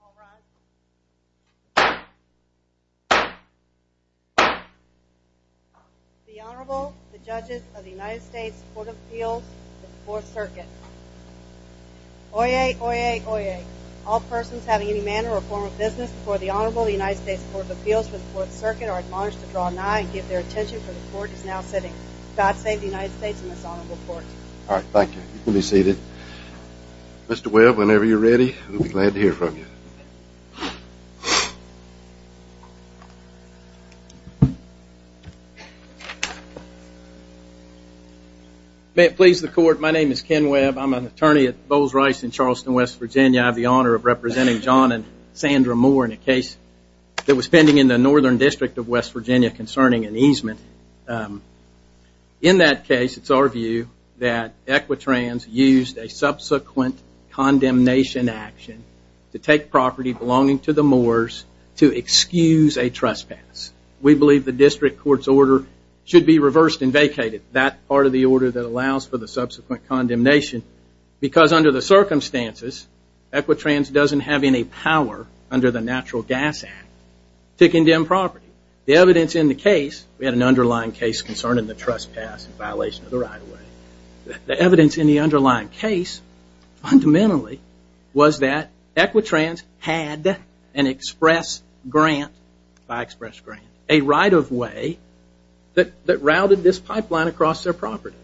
All rise. The Honorable, the Judges of the United States Court of Appeals for the Fourth Circuit. Oyez, oyez, oyez. All persons having any manner or form of business before the Honorable, the United States Court of Appeals for the Fourth Circuit are admonished to draw an eye and give their attention for the Court is now sitting. God save the United States and this Honorable Court. All right, thank you. You can be seated. Mr. Webb, whenever you're ready, we'll be glad to hear from you. May it please the Court, my name is Ken Webb. I'm an attorney at Bowles Rice in Charleston, West Virginia. I have the honor of representing John and Sandra Moore in a case that was pending in the Northern District of West Virginia concerning an easement. In that case, it's our view that Equitrans used a subsequent condemnation action to take property belonging to the Moores to excuse a trespass. We believe the district court's order should be reversed and vacated. That part of the order that allows for the subsequent condemnation because under the circumstances, Equitrans doesn't have any power under the Natural Gas Act to condemn property. The evidence in the case, we had an underlying case concerning the trespass in violation of the right-of-way. The evidence in the underlying case fundamentally was that Equitrans had an express grant, by express grant, a right-of-way that routed this pipeline across their property.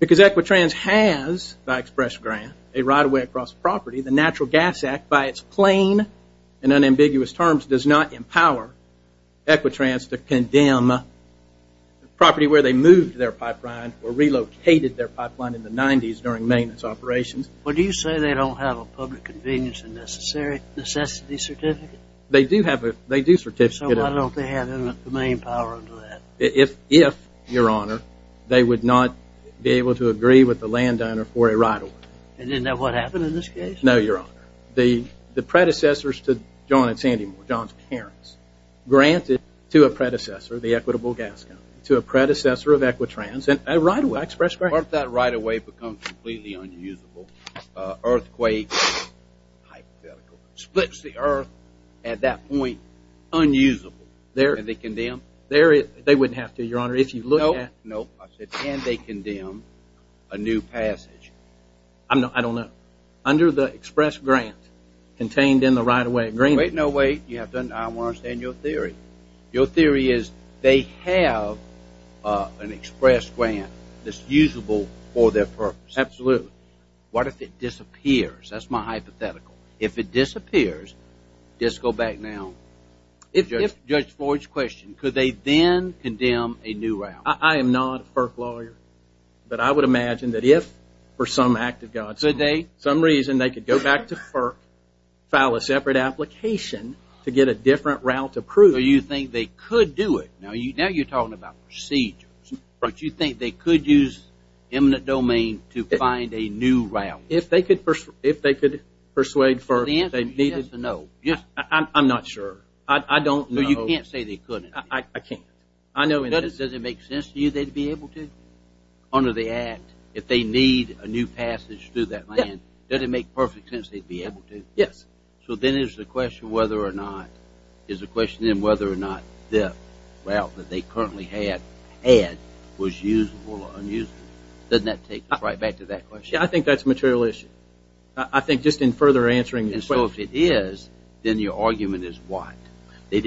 Because Equitrans has, by express grant, a right-of-way across property, the Natural Gas Act, by its plain and unambiguous terms, does not empower Equitrans to condemn property where they moved their pipeline or relocated their pipeline in the 90s during maintenance operations. But do you say they don't have a public convenience and necessity certificate? They do have a certificate. So why don't they have the main power under that? If, your honor, they would not be able to agree with the landowner for a right-of-way. And isn't that what happened in this case? No, your honor. The predecessors to John and Sandy Moore, John's parents, granted to a predecessor, the Equitable Gas Company, to a predecessor of Equitrans a right-of-way, express grant. That right-of-way becomes completely unusable. Earthquake, hypothetical. Splits the earth at that point, unusable. And they condemn? They wouldn't have to, your honor. If you look at... No, no. And they condemn a new passage. I don't know. Under the express grant contained in the right-of-way agreement. Wait, no, wait. I want to understand your theory. Your theory is they have an express grant that's usable for their purpose. Absolutely. What if it disappears? That's my hypothetical. If it disappears, just go back now. If, Judge Floyd's question, could they then condemn a new route? I am not a FERC lawyer, but I would imagine that if, for some act of God's... Some reason they could go back to FERC, file a separate application to get a different route approved. So you think they could do it? Now you're talking about procedures. But you think they could use eminent domain to find a new route? If they could persuade FERC that they needed... The answer is yes or no. I'm not sure. I don't know. You can't say they couldn't. I can't. I know... Does it make sense to you they'd be able to? Under the act, if they need a new passage through that land, does it make perfect sense they'd be able to? Yes. So then is the question whether or not... Is the question then whether or not the route that they currently had was usable or unusable? Doesn't that take us right back to that question? I think that's a material issue. I think just in further answering your question... And so if it is, then your argument is what? There's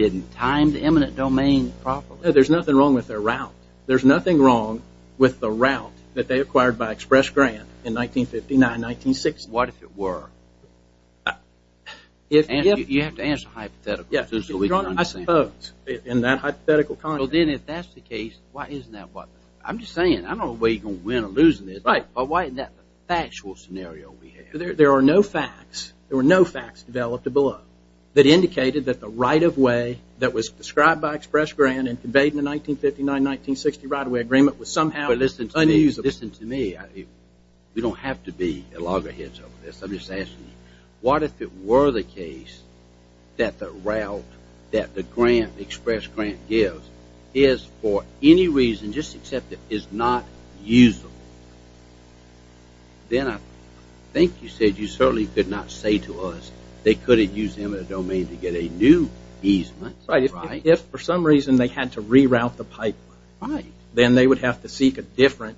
nothing wrong with their route. There's nothing wrong with the route that they acquired by Express Grant in 1959, 1960. What if it were? You have to answer hypothetically. I suppose. In that hypothetical context. Then if that's the case, why isn't that what... I'm just saying, I don't know whether you're going to win or lose in this, but why isn't that the factual scenario we have? There are no facts. There were no facts developed below that indicated that the right-of-way that was described by Express Grant and conveyed in the 1959-1960 right-of-way agreement was somehow unusable. Listen to me. We don't have to be loggerheads over this. I'm just asking you. What if it were the case that the route that the grant, the Express Grant gives, is for any reason, just accept it, is not usable? Then I think you said you certainly could not say to us they couldn't use them in a domain to get a new easement. Right. If for some reason they had to reroute the pipeline, then they would have to seek a different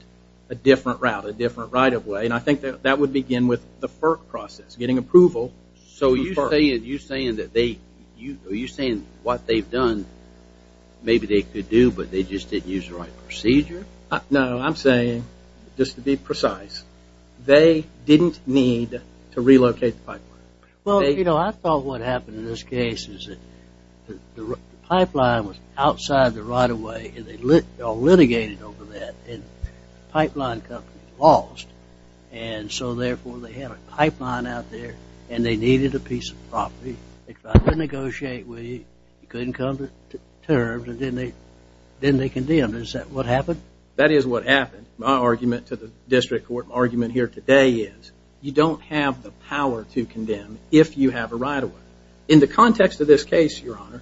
route, a different right-of-way. I think that would begin with the FERC process, getting approval from FERC. Are you saying what they've done, maybe they could do, but they just didn't use the right procedure? No. I'm saying, just to be precise, they didn't need to relocate the pipeline. Well, you know, I thought what happened in this case is that the pipeline was outside the right-of-way and they litigated over that, and the pipeline company lost, and so therefore they had a pipeline out there and they needed a piece of property. They tried to negotiate with you. You couldn't come to terms, and then they condemned it. Is that what happened? That is what happened. My argument to the district court argument here today is you don't have the power to condemn if you have a right-of-way. In the context of this case, Your Honor,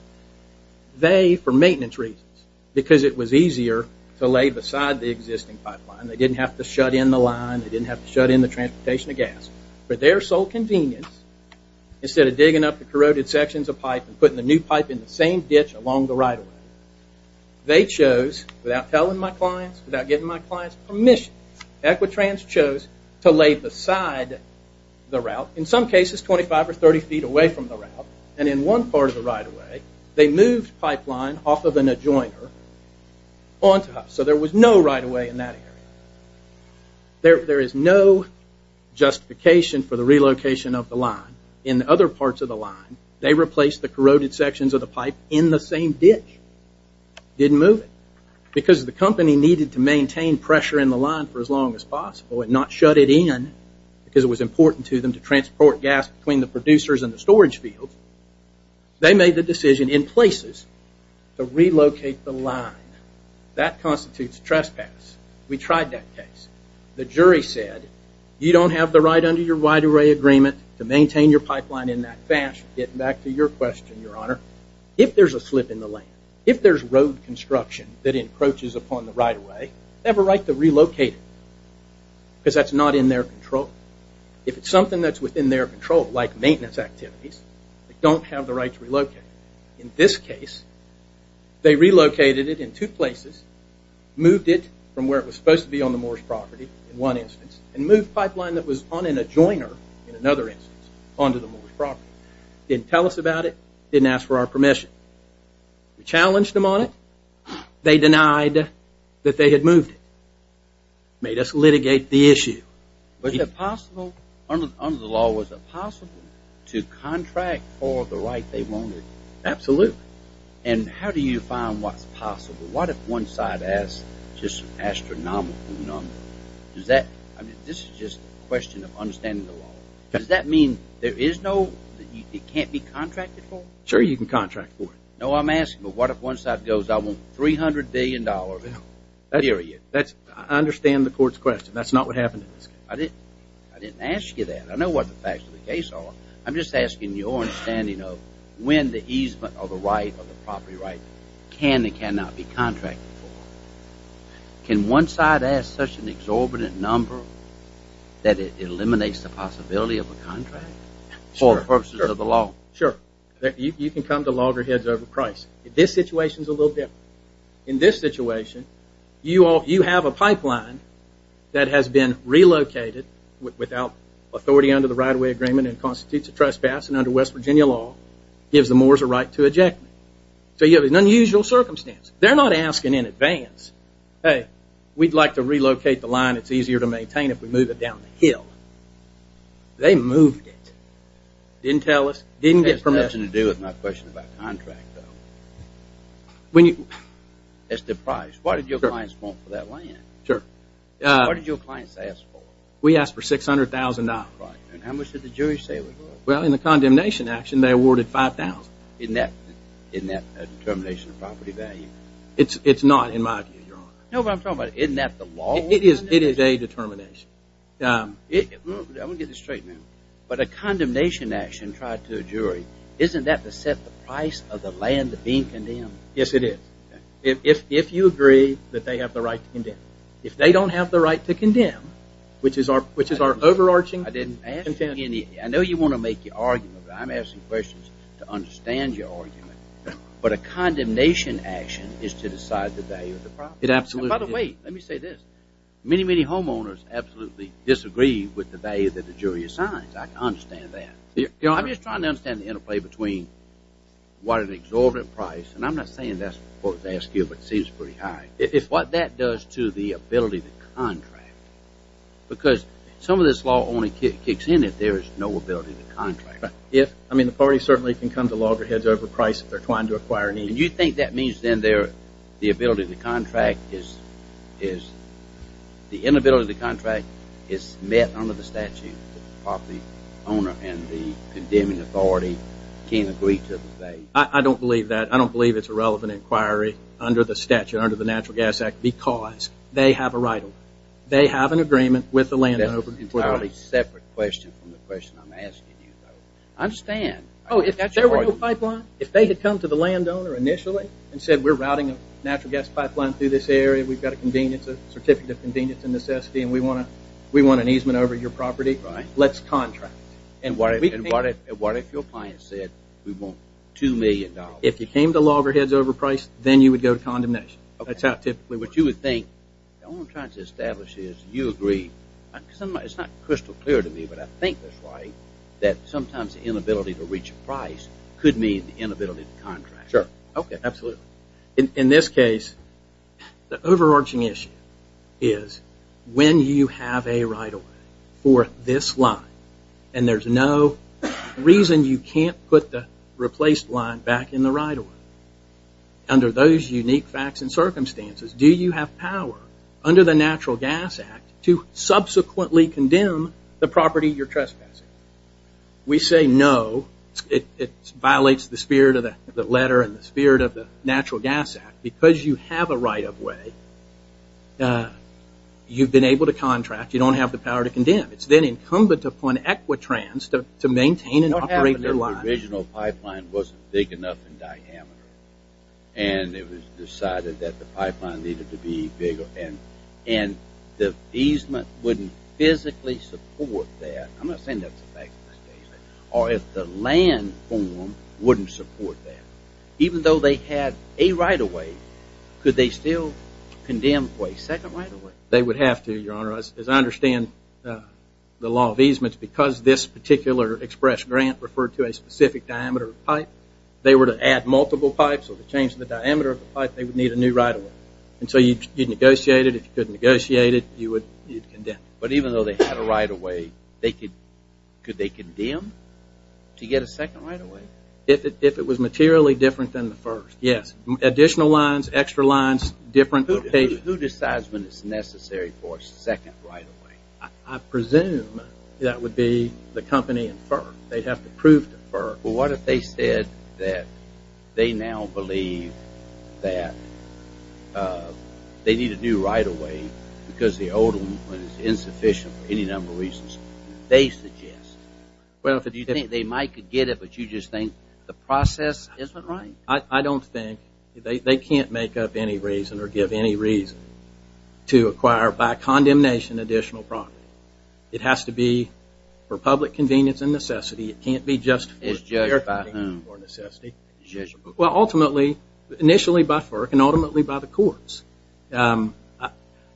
they, for maintenance reasons, because it was easier to lay beside the existing pipeline, they didn't have to shut in the line, they didn't have to shut in the transportation of gas, for their sole convenience, instead of digging up the corroded sections of pipe and putting the new pipe in the same ditch along the right-of-way, they chose, without telling my clients, without giving my clients permission, Equitrans chose to lay beside the route, in some cases 25 or 30 feet away from the route, and in one part of the right-of-way, they moved pipeline off of an adjoiner onto us, so there was no right-of-way in that area. There is no justification for the relocation of the line. In other parts of the line, they replaced the corroded sections of the pipe in the same ditch. Didn't move it. Because the company needed to maintain pressure in the line for as long as possible and not shut it in because it was important to them to transport gas between the producers and the storage field, they made the decision in places to relocate the line. That constitutes trespass. We tried that case. The jury said, you don't have the right under your right-of-way agreement to maintain your pipeline in that fashion. Getting back to your question, Your Honor, if there's a slip in the land, if there's road construction that encroaches upon the right-of-way, they have a right to relocate it because that's not in their control. If it's something that's within their control, like maintenance activities, they don't have the right to relocate it. In this case, they relocated it in two places, moved it from where it was supposed to be on the Moore's property in one instance and moved pipeline that was on an adjoiner in another instance onto the Moore's property. Didn't tell us about it. Didn't ask for our permission. We challenged them on it. They denied that they had moved it. Made us litigate the issue. Under the law, was it possible to contract for the right they wanted? Absolutely. And how do you find what's possible? What if one side asks just astronomical numbers? This is just a question of understanding the law. Does that mean it can't be contracted for? Sure, you can contract for it. No, I'm asking what if one side goes, I want $300 billion, period. I understand the court's question. That's not what happened in this case. I didn't ask you that. I know what the facts of the case are. I'm just asking your understanding of when the easement of a right, can and cannot be contracted for. Can one side ask such an exorbitant number that it eliminates the possibility of a contract for the purposes of the law? Sure. You can come to loggerheads over price. This situation's a little different. In this situation, you have a pipeline that has been relocated without authority under the right-of-way agreement and constitutes a trespass and under West Virginia law gives the moors a right to eject. So you have an unusual circumstance. They're not asking in advance, hey, we'd like to relocate the line that's easier to maintain if we move it down the hill. They moved it. Didn't get permission to do it. That has nothing to do with my question about contract, though. It's the price. What did your clients want for that land? Sure. What did your clients ask for? We asked for $600,000. Right. And how much did the jury say it was worth? Well, in the condemnation action, they awarded $5,000. Isn't that a determination of property value? It's not, in my view, Your Honor. No, but I'm talking about isn't that the law? It is a determination. I want to get this straight now. But a condemnation action tried to a jury, isn't that to set the price of the land being condemned? Yes, it is. If you agree that they have the right to condemn. If they don't have the right to condemn, which is our overarching action plan. I know you want to make your argument, but I'm asking questions to understand your argument. But a condemnation action is to decide the value of the property. And by the way, let me say this. Many, many homeowners absolutely disagree with the value that the jury assigns. I can understand that. I'm just trying to understand the interplay between what an exorbitant price, and I'm not saying that's what they ask you, but it seems pretty high, is what that does to the ability to contract. Because some of this law only kicks in if there is no ability to contract. I mean, the party certainly can come to loggerheads over price if they're trying to acquire an easement. And you think that means then the inability to contract is met under the statute if the property owner and the condemning authority can't agree to the debate? I don't believe that. I don't believe it's a relevant inquiry under the statute, under the Natural Gas Act, because they have a right over it. They have an agreement with the landowner. That's an entirely separate question from the question I'm asking you, though. I understand. Oh, if there were no pipeline, if they had come to the landowner initially and said we're routing a natural gas pipeline through this area, we've got a certificate of convenience and necessity, and we want an easement over your property, let's contract. And what if your client said we want $2 million? If you came to loggerheads over price, then you would go to condemnation. That's how typically what you would think. The only thing I'm trying to establish is you agree. It's not crystal clear to me, but I think that's right, that sometimes the inability to reach a price could mean the inability to contract. Sure. Okay. Absolutely. In this case, the overarching issue is when you have a right of way for this line and there's no reason you can't put the replaced line back in the right of way, under those unique facts and circumstances, do you have power under the Natural Gas Act to subsequently condemn the property you're trespassing? We say no. It violates the spirit of the letter and the spirit of the Natural Gas Act. Because you have a right of way, you've been able to contract. You don't have the power to condemn. It's then incumbent upon Equitrans to maintain and operate the line. The original pipeline wasn't big enough in diameter, and it was decided that the pipeline needed to be bigger, and the easement wouldn't physically support that. I'm not saying that's the fact of the statement. Or if the land form wouldn't support that, even though they had a right of way, could they still condemn for a second right of way? They would have to, Your Honor. As I understand the law of easements, because this particular express grant referred to a specific diameter of pipe, if they were to add multiple pipes or to change the diameter of the pipe, they would need a new right of way. And so you'd negotiate it. If you couldn't negotiate it, you'd condemn it. But even though they had a right of way, could they condemn to get a second right of way? If it was materially different than the first. Yes. Additional lines, extra lines, different location. Who decides when it's necessary for a second right of way? I presume that would be the company and FERC. They'd have to prove to FERC. Well, what if they said that they now believe that they need a new right of way because the old one is insufficient for any number of reasons. They suggest. Well, if you think they might get it, but you just think the process isn't right. I don't think. They can't make up any reason or give any reason to acquire, by condemnation, additional property. It has to be for public convenience and necessity. It can't be just for the purpose of necessity. Well, ultimately, initially by FERC and ultimately by the courts.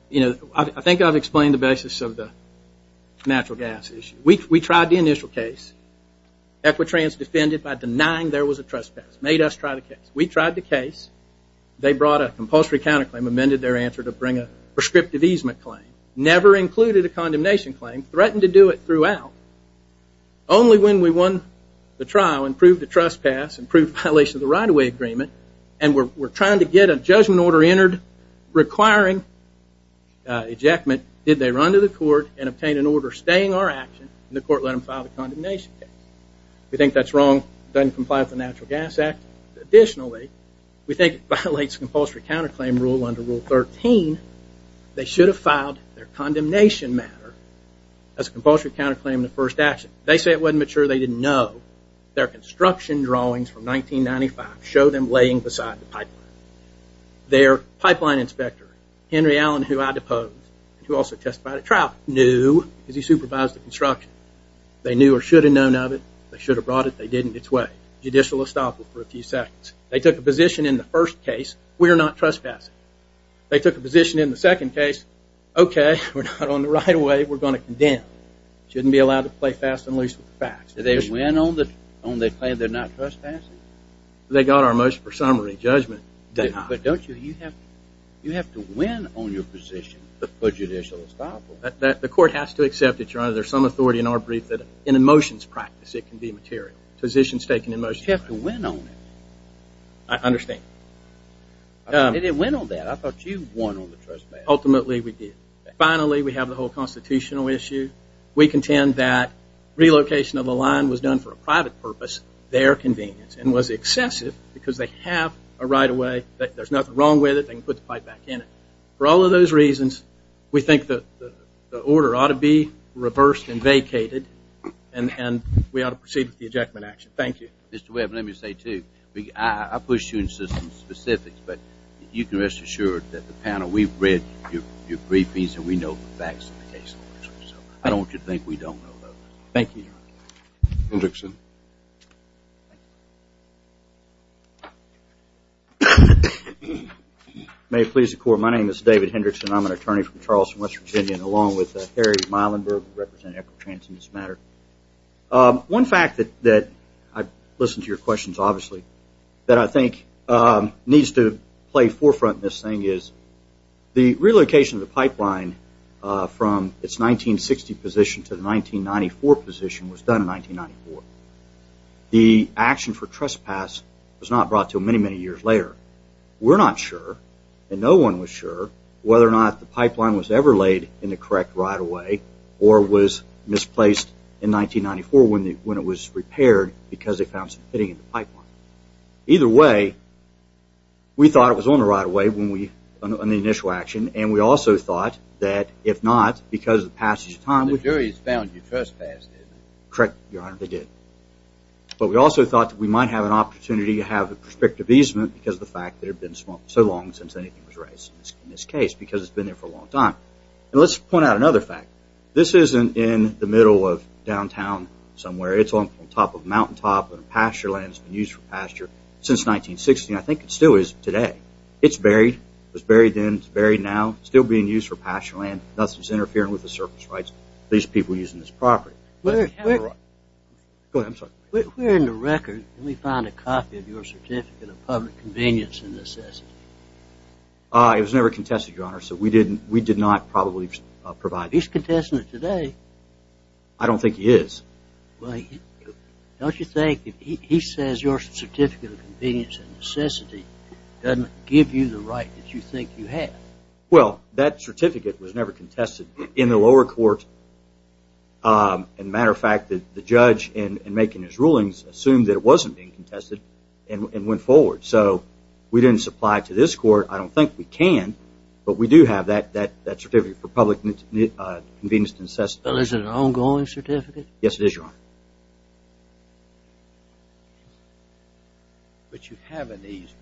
You know, I think I've explained the basis of the natural gas issue. We tried the initial case. Equitrans defended by denying there was a trespass, made us try the case. We tried the case. They brought a compulsory counterclaim, amended their answer to bring a prescriptive easement claim. Never included a condemnation claim. Threatened to do it throughout. Only when we won the trial and proved a trespass, and proved violation of the right of way agreement, and we're trying to get a judgment order entered requiring ejectment, did they run to the court and obtain an order staying our action, and the court let them file the condemnation case. We think that's wrong. Doesn't comply with the Natural Gas Act. Additionally, we think it violates compulsory counterclaim rule under Rule 13. They should have filed their condemnation matter as a compulsory counterclaim in the first action. They say it wasn't mature. They didn't know. Their construction drawings from 1995 show them laying beside the pipeline. Their pipeline inspector, Henry Allen, who I deposed, who also testified at trial, knew because he supervised the construction. They knew or should have known of it. They should have brought it. They didn't. Judicial estoppel for a few seconds. They took a position in the first case. We are not trespassing. They took a position in the second case. Okay, we're not on the right of way. We're going to condemn. Shouldn't be allowed to play fast and loose with the facts. Did they win on the claim they're not trespassing? They got our motion for summary judgment. But don't you have to win on your position for judicial estoppel? The court has to accept it, Your Honor. There's some authority in our brief that in a motions practice it can be material. You have to win on it. I understand. They didn't win on that. I thought you won on the trespassing. Ultimately, we did. Finally, we have the whole constitutional issue. We contend that relocation of the line was done for a private purpose, their convenience, and was excessive because they have a right of way. There's nothing wrong with it. They can put the pipe back in it. For all of those reasons, we think the order ought to be reversed and vacated, and we ought to proceed with the ejectment action. Thank you. Mr. Webb, let me say, too, I push you in systems specifics, but you can rest assured that the panel, we've read your briefings, and we know the facts of the case. I don't want you to think we don't know, though. Thank you, Your Honor. Hendrickson. May it please the Court, my name is David Hendrickson. I'm an attorney from Charleston, West Virginia, along with Harry Meilenberg, representing Echo Trans in this matter. One fact that I've listened to your questions, obviously, that I think needs to play forefront in this thing is the relocation of the pipeline from its 1960 position to the 1994 position was done in 1994. The action for trespass was not brought until many, many years later. We're not sure, and no one was sure, whether or not the pipeline was ever laid in the correct right-of-way or was misplaced in 1994 when it was repaired because they found some pitting in the pipeline. Either way, we thought it was on the right-of-way on the initial action, and we also thought that if not, because of the passage of time. The juries found you trespassed, didn't they? Correct, Your Honor, they did. But we also thought that we might have an opportunity to have a perspective easement because of the fact that it had been so long since anything was raised in this case because it's been there for a long time. And let's point out another fact. This isn't in the middle of downtown somewhere. It's on top of a mountaintop in a pasture land. It's been used for pasture since 1960, and I think it still is today. It's buried. It was buried then. It's buried now. Still being used for pasture land. Nothing's interfering with the surface rights of these people using this property. Go ahead. I'm sorry. Where in the record did we find a copy of your Certificate of Public Convenience and Necessity? It was never contested, Your Honor, so we did not probably provide it. He's contesting it today. I don't think he is. Don't you think if he says your Certificate of Convenience and Necessity doesn't give you the right that you think you have? Well, that certificate was never contested. In the lower court, as a matter of fact, the judge in making his rulings assumed that it wasn't being contested and went forward. So we didn't supply it to this court. I don't think we can, but we do have that Certificate of Public Convenience and Necessity. Well, is it an ongoing certificate? Yes, it is, Your Honor. But you have an easement.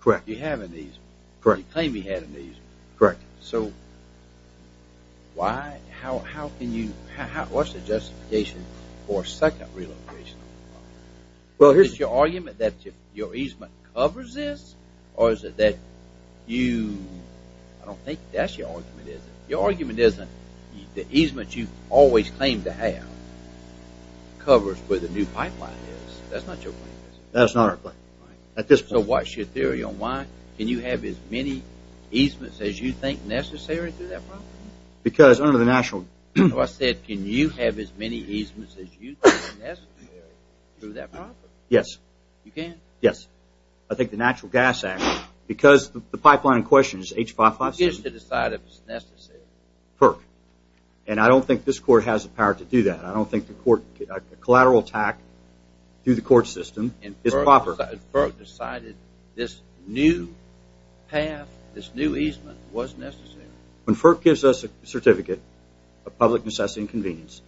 Correct. You have an easement. Correct. You claim you have an easement. Correct. So why, how can you, what's the justification for a second relocation? Is it your argument that your easement covers this, or is it that you, I don't think that's your argument. Your argument isn't the easement you've always claimed to have covers where the new pipeline is. That's not your claim. That's not our claim. So what's your theory on why? Can you have as many easements as you think necessary through that property? Because under the national No, I said can you have as many easements as you think necessary through that property? Yes. You can? Yes. I think the Natural Gas Act, because the pipeline in question is H557 You get to decide if it's necessary. Perk. And I don't think this court has the power to do that. I don't think the court, a collateral attack through the court system is proper. Because FERC decided this new path, this new easement was necessary. When FERC gives us a certificate of public necessity and convenience,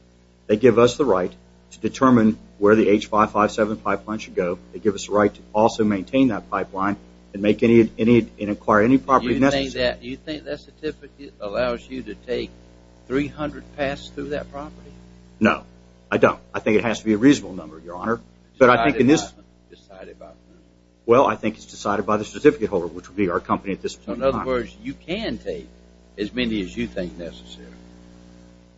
they give us the right to determine where the H557 pipeline should go. They give us the right to also maintain that pipeline and make any, and acquire any property necessary. You think that certificate allows you to take 300 paths through that property? No, I don't. I think it has to be a reasonable number, Your Honor. Decided by who? Well, I think it's decided by the certificate holder, which would be our company at this point in time. So in other words, you can take as many as you think necessary?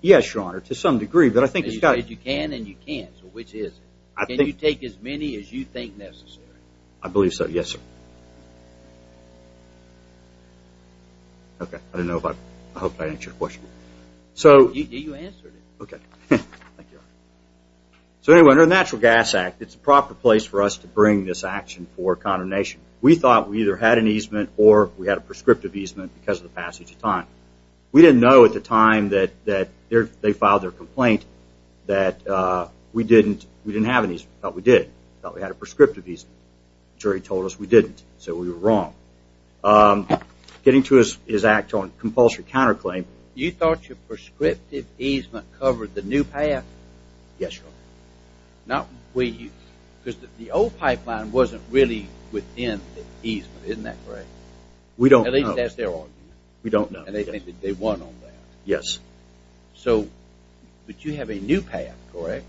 Yes, Your Honor, to some degree, but I think it's got to You can and you can't, so which is it? Can you take as many as you think necessary? I believe so, yes, sir. Okay, I didn't know if I answered your question. You answered it. Okay. Thank you, Your Honor. So anyway, under the Natural Gas Act, it's the proper place for us to bring this action for condemnation. We thought we either had an easement or we had a prescriptive easement because of the passage of time. We didn't know at the time that they filed their complaint that we didn't have an easement. We thought we did. We thought we had a prescriptive easement. The jury told us we didn't, so we were wrong. Getting to his act on compulsory counterclaim, you thought your prescriptive easement covered the new path? Yes, Your Honor. Because the old pipeline wasn't really within the easement, isn't that correct? We don't know. At least that's their argument. We don't know. And they think that they won on that. Yes. But you have a new path, correct?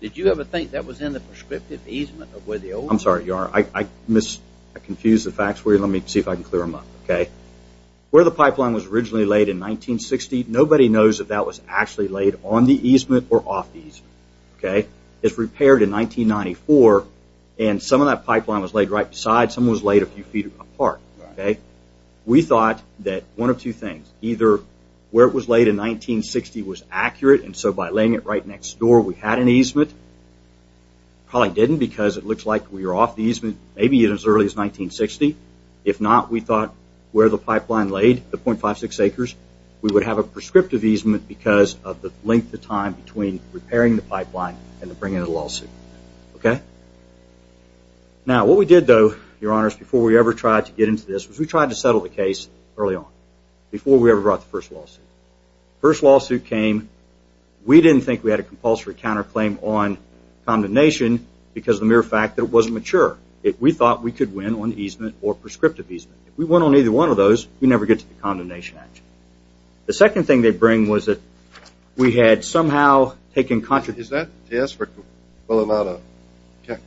Did you ever think that was in the prescriptive easement? I'm sorry, Your Honor, I confused the facts for you. Let me see if I can clear them up, okay? Where the pipeline was originally laid in 1960, nobody knows if that was actually laid on the easement or off the easement. It was repaired in 1994, and some of that pipeline was laid right beside, some was laid a few feet apart. We thought that one of two things, either where it was laid in 1960 was accurate, and so by laying it right next door we had an easement. Probably didn't because it looked like we were off the easement maybe as early as 1960. If not, we thought where the pipeline laid, the .56 acres, we would have a prescriptive easement because of the length of time between repairing the pipeline and bringing in a lawsuit, okay? Now, what we did, though, Your Honor, is before we ever tried to get into this was we tried to settle the case early on, before we ever brought the first lawsuit. First lawsuit came. We didn't think we had a compulsory counterclaim on condemnation because of the mere fact that it wasn't mature. We thought we could win on easement or prescriptive easement. If we won on either one of those, we'd never get to the condemnation action. The second thing they'd bring was that we had somehow taken contradiction. Is that a test for whether or not a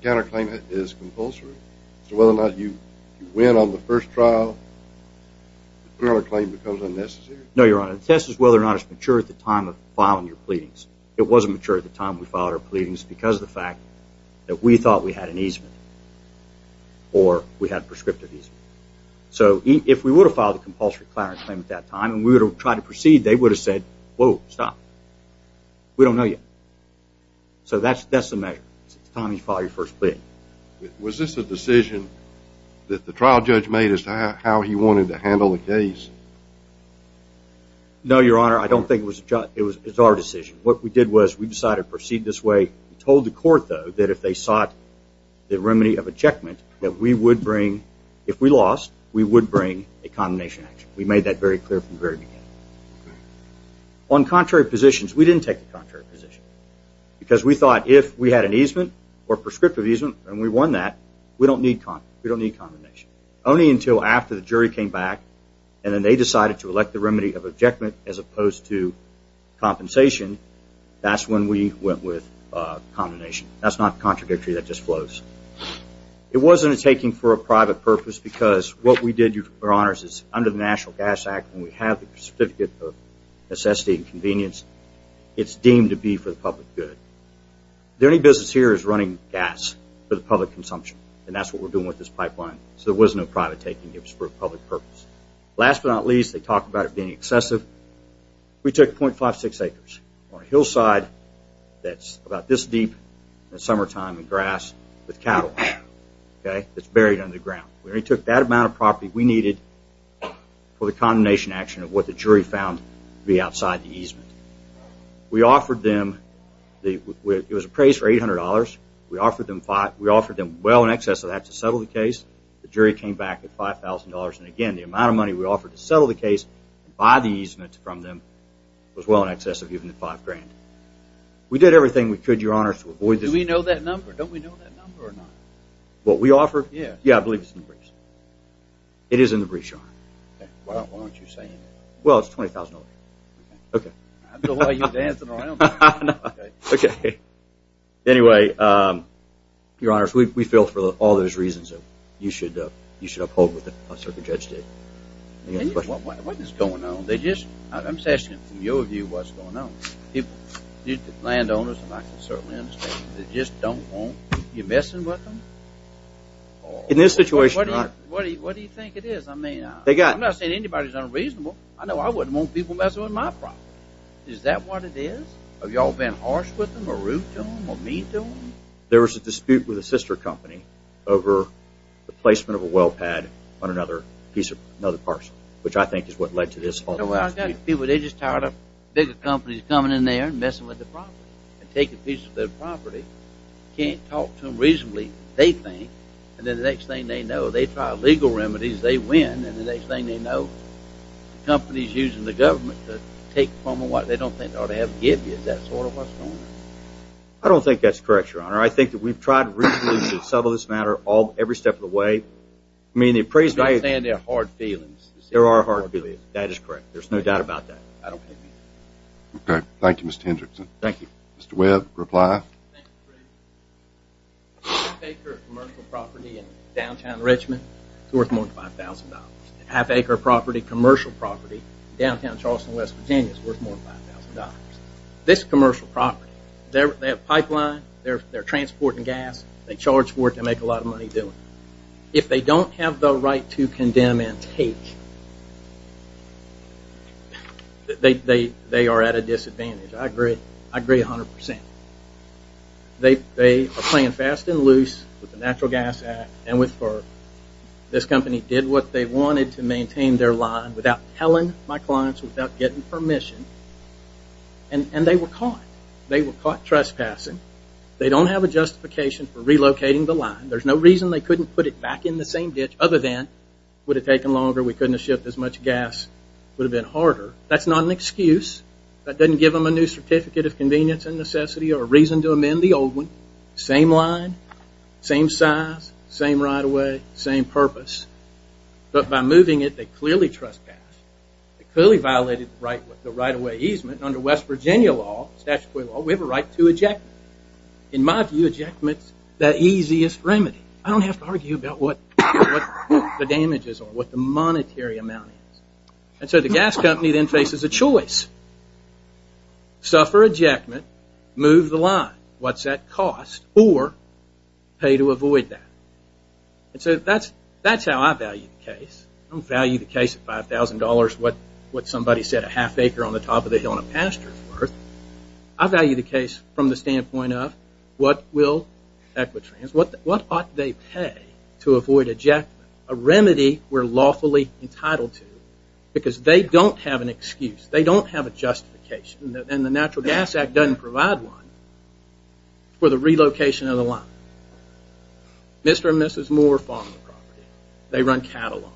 counterclaim is compulsory? So whether or not you win on the first trial, the counterclaim becomes unnecessary? No, Your Honor. The test is whether or not it's mature at the time of filing your pleadings. It wasn't mature at the time we filed our pleadings because of the fact that we thought we had an easement or we had prescriptive easement. So if we would have filed a compulsory counterclaim at that time and we would have tried to proceed, they would have said, Whoa, stop. We don't know yet. So that's the measure. It's time you file your first plea. Was this a decision that the trial judge made as to how he wanted to handle the case? No, Your Honor. I don't think it was a judge. It was our decision. What we did was we decided to proceed this way. We told the court, though, that if they sought the remedy of ejectment, that if we lost, we would bring a condemnation action. We made that very clear from the very beginning. On contrary positions, we didn't take the contrary position because we thought if we had an easement or prescriptive easement and we won that, we don't need condemnation. Only until after the jury came back and then they decided to elect the remedy of ejectment as opposed to compensation, that's when we went with condemnation. That's not contradictory. That just flows. It wasn't a taking for a private purpose because what we did, Your Honors, is under the National Gas Act, when we have the Certificate of Necessity and Convenience, it's deemed to be for the public good. The only business here is running gas for the public consumption, and that's what we're doing with this pipeline. So there was no private taking. It was for a public purpose. Last but not least, they talked about it being excessive. We took 0.56 acres on a hillside that's about this deep in the summertime, in grass, with cattle that's buried underground. We only took that amount of property we needed for the condemnation action of what the jury found to be outside the easement. We offered them, it was appraised for $800. We offered them well in excess of that to settle the case. The jury came back with $5,000. And again, the amount of money we offered to settle the case and buy the easement from them was well in excess of even the $5,000. We did everything we could, Your Honors, to avoid this. Do we know that number? Don't we know that number or not? What we offered? Yeah. Yeah, I believe it's in the briefs. It is in the briefs, Your Honor. Why don't you say it? Well, it's $20,000. Okay. I don't know why you're dancing around. Okay. Anyway, Your Honors, we feel for all those reasons you should uphold what the circuit judge did. What is going on? I'm just asking from your view what's going on. Landowners, I can certainly understand, they just don't want you messing with them? In this situation, Your Honor. What do you think it is? I'm not saying anybody's unreasonable. I know I wouldn't want people messing with my property. Is that what it is? Have you all been harsh with them or rude to them or mean to them? There was a dispute with a sister company over the placement of a well pad on another piece of another parcel, which I think is what led to this whole dispute. They're just tired of bigger companies coming in there and messing with the property and taking pieces of their property. Can't talk to them reasonably, they think. And then the next thing they know, they try legal remedies, they win. And the next thing they know, the company's using the government to take from them what they don't think they ought to have given you. Is that sort of what's going on? I don't think that's correct, Your Honor. I think that we've tried reasonably to settle this matter every step of the way. I mean, the appraised value... You're not saying they're hard feelings. They are hard feelings, that is correct. There's no doubt about that. Okay, thank you, Mr. Hendrickson. Thank you. Half acre of commercial property in downtown Richmond is worth more than $5,000. Half acre of commercial property in downtown Charleston, West Virginia is worth more than $5,000. This commercial property, they have pipeline, they're transporting gas, they charge for it, they make a lot of money doing it. If they don't have the right to condemn and take, they are at a disadvantage. I agree 100%. They are playing fast and loose with the Natural Gas Act and with FERC. This company did what they wanted to maintain their line without telling my clients, without getting permission, and they were caught. They were caught trespassing. They don't have a justification for relocating the line. There's no reason they couldn't put it back in the same ditch other than it would have taken longer, we couldn't have shipped as much gas, it would have been harder. That's not an excuse. That doesn't give them a new certificate of convenience and necessity or a reason to amend the old one. Same line, same size, same right-of-way, same purpose, but by moving it, they clearly trespassed. They clearly violated the right-of-way easement. Under West Virginia law, statutory law, we have a right to eject. In my view, ejectment is the easiest remedy. I don't have to argue about what the damages are, what the monetary amount is. So the gas company then faces a choice. Suffer ejectment, move the line. What's that cost? Or pay to avoid that. And so that's how I value the case. I don't value the case of $5,000, what somebody said a half acre on the top of the hill in a pasture is worth. I value the case from the standpoint of what will Equitrans, what ought they pay to avoid ejectment, a remedy we're lawfully entitled to, because they don't have an excuse. They don't have a justification. And the Natural Gas Act doesn't provide one for the relocation of the line. Mr. and Mrs. Moore farm the property. They run cattle on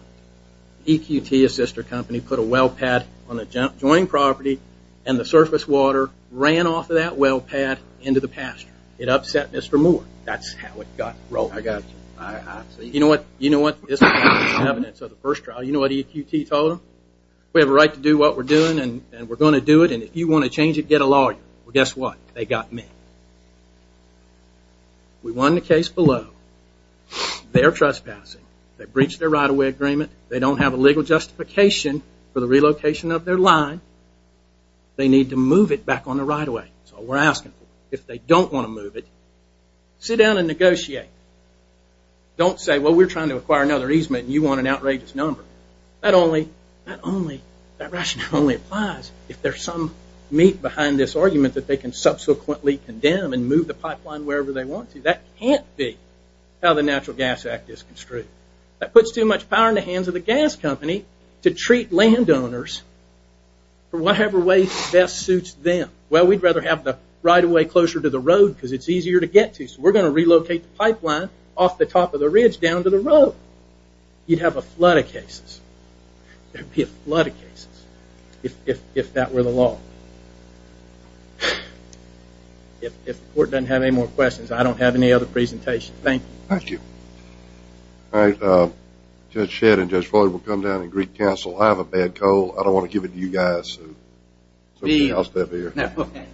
it. EQT, a sister company, put a well pad on the joint property, and the surface water ran off of that well pad into the pasture. It upset Mr. Moore. That's how it got broken. You know what? This is evidence of the first trial. You know what EQT told them? We have a right to do what we're doing, and we're going to do it, and if you want to change it, get a lawyer. Well, guess what? They got me. We won the case below. They're trespassing. They breached their right-of-way agreement. They don't have a legal justification for the relocation of their line. They need to move it back on the right-of-way. That's all we're asking for. If they don't want to move it, sit down and negotiate. Don't say, well, we're trying to acquire another easement, and you want an outrageous number. That rationale only applies if there's some meat behind this argument that they can subsequently condemn and move the pipeline wherever they want to. That can't be how the Natural Gas Act is construed. That puts too much power in the hands of the gas company to treat landowners for whatever way best suits them. Well, we'd rather have the right-of-way closer to the road because it's easier to get to, so we're going to relocate the pipeline off the top of the ridge down to the road. You'd have a flood of cases. There'd be a flood of cases if that were the law. If the court doesn't have any more questions, I don't have any other presentations. Thank you. Thank you. All right. Judge Shedd and Judge Floyd will come down and greet counsel. I have a bad cold. I don't want to give it to you guys, so somebody else step here. Okay.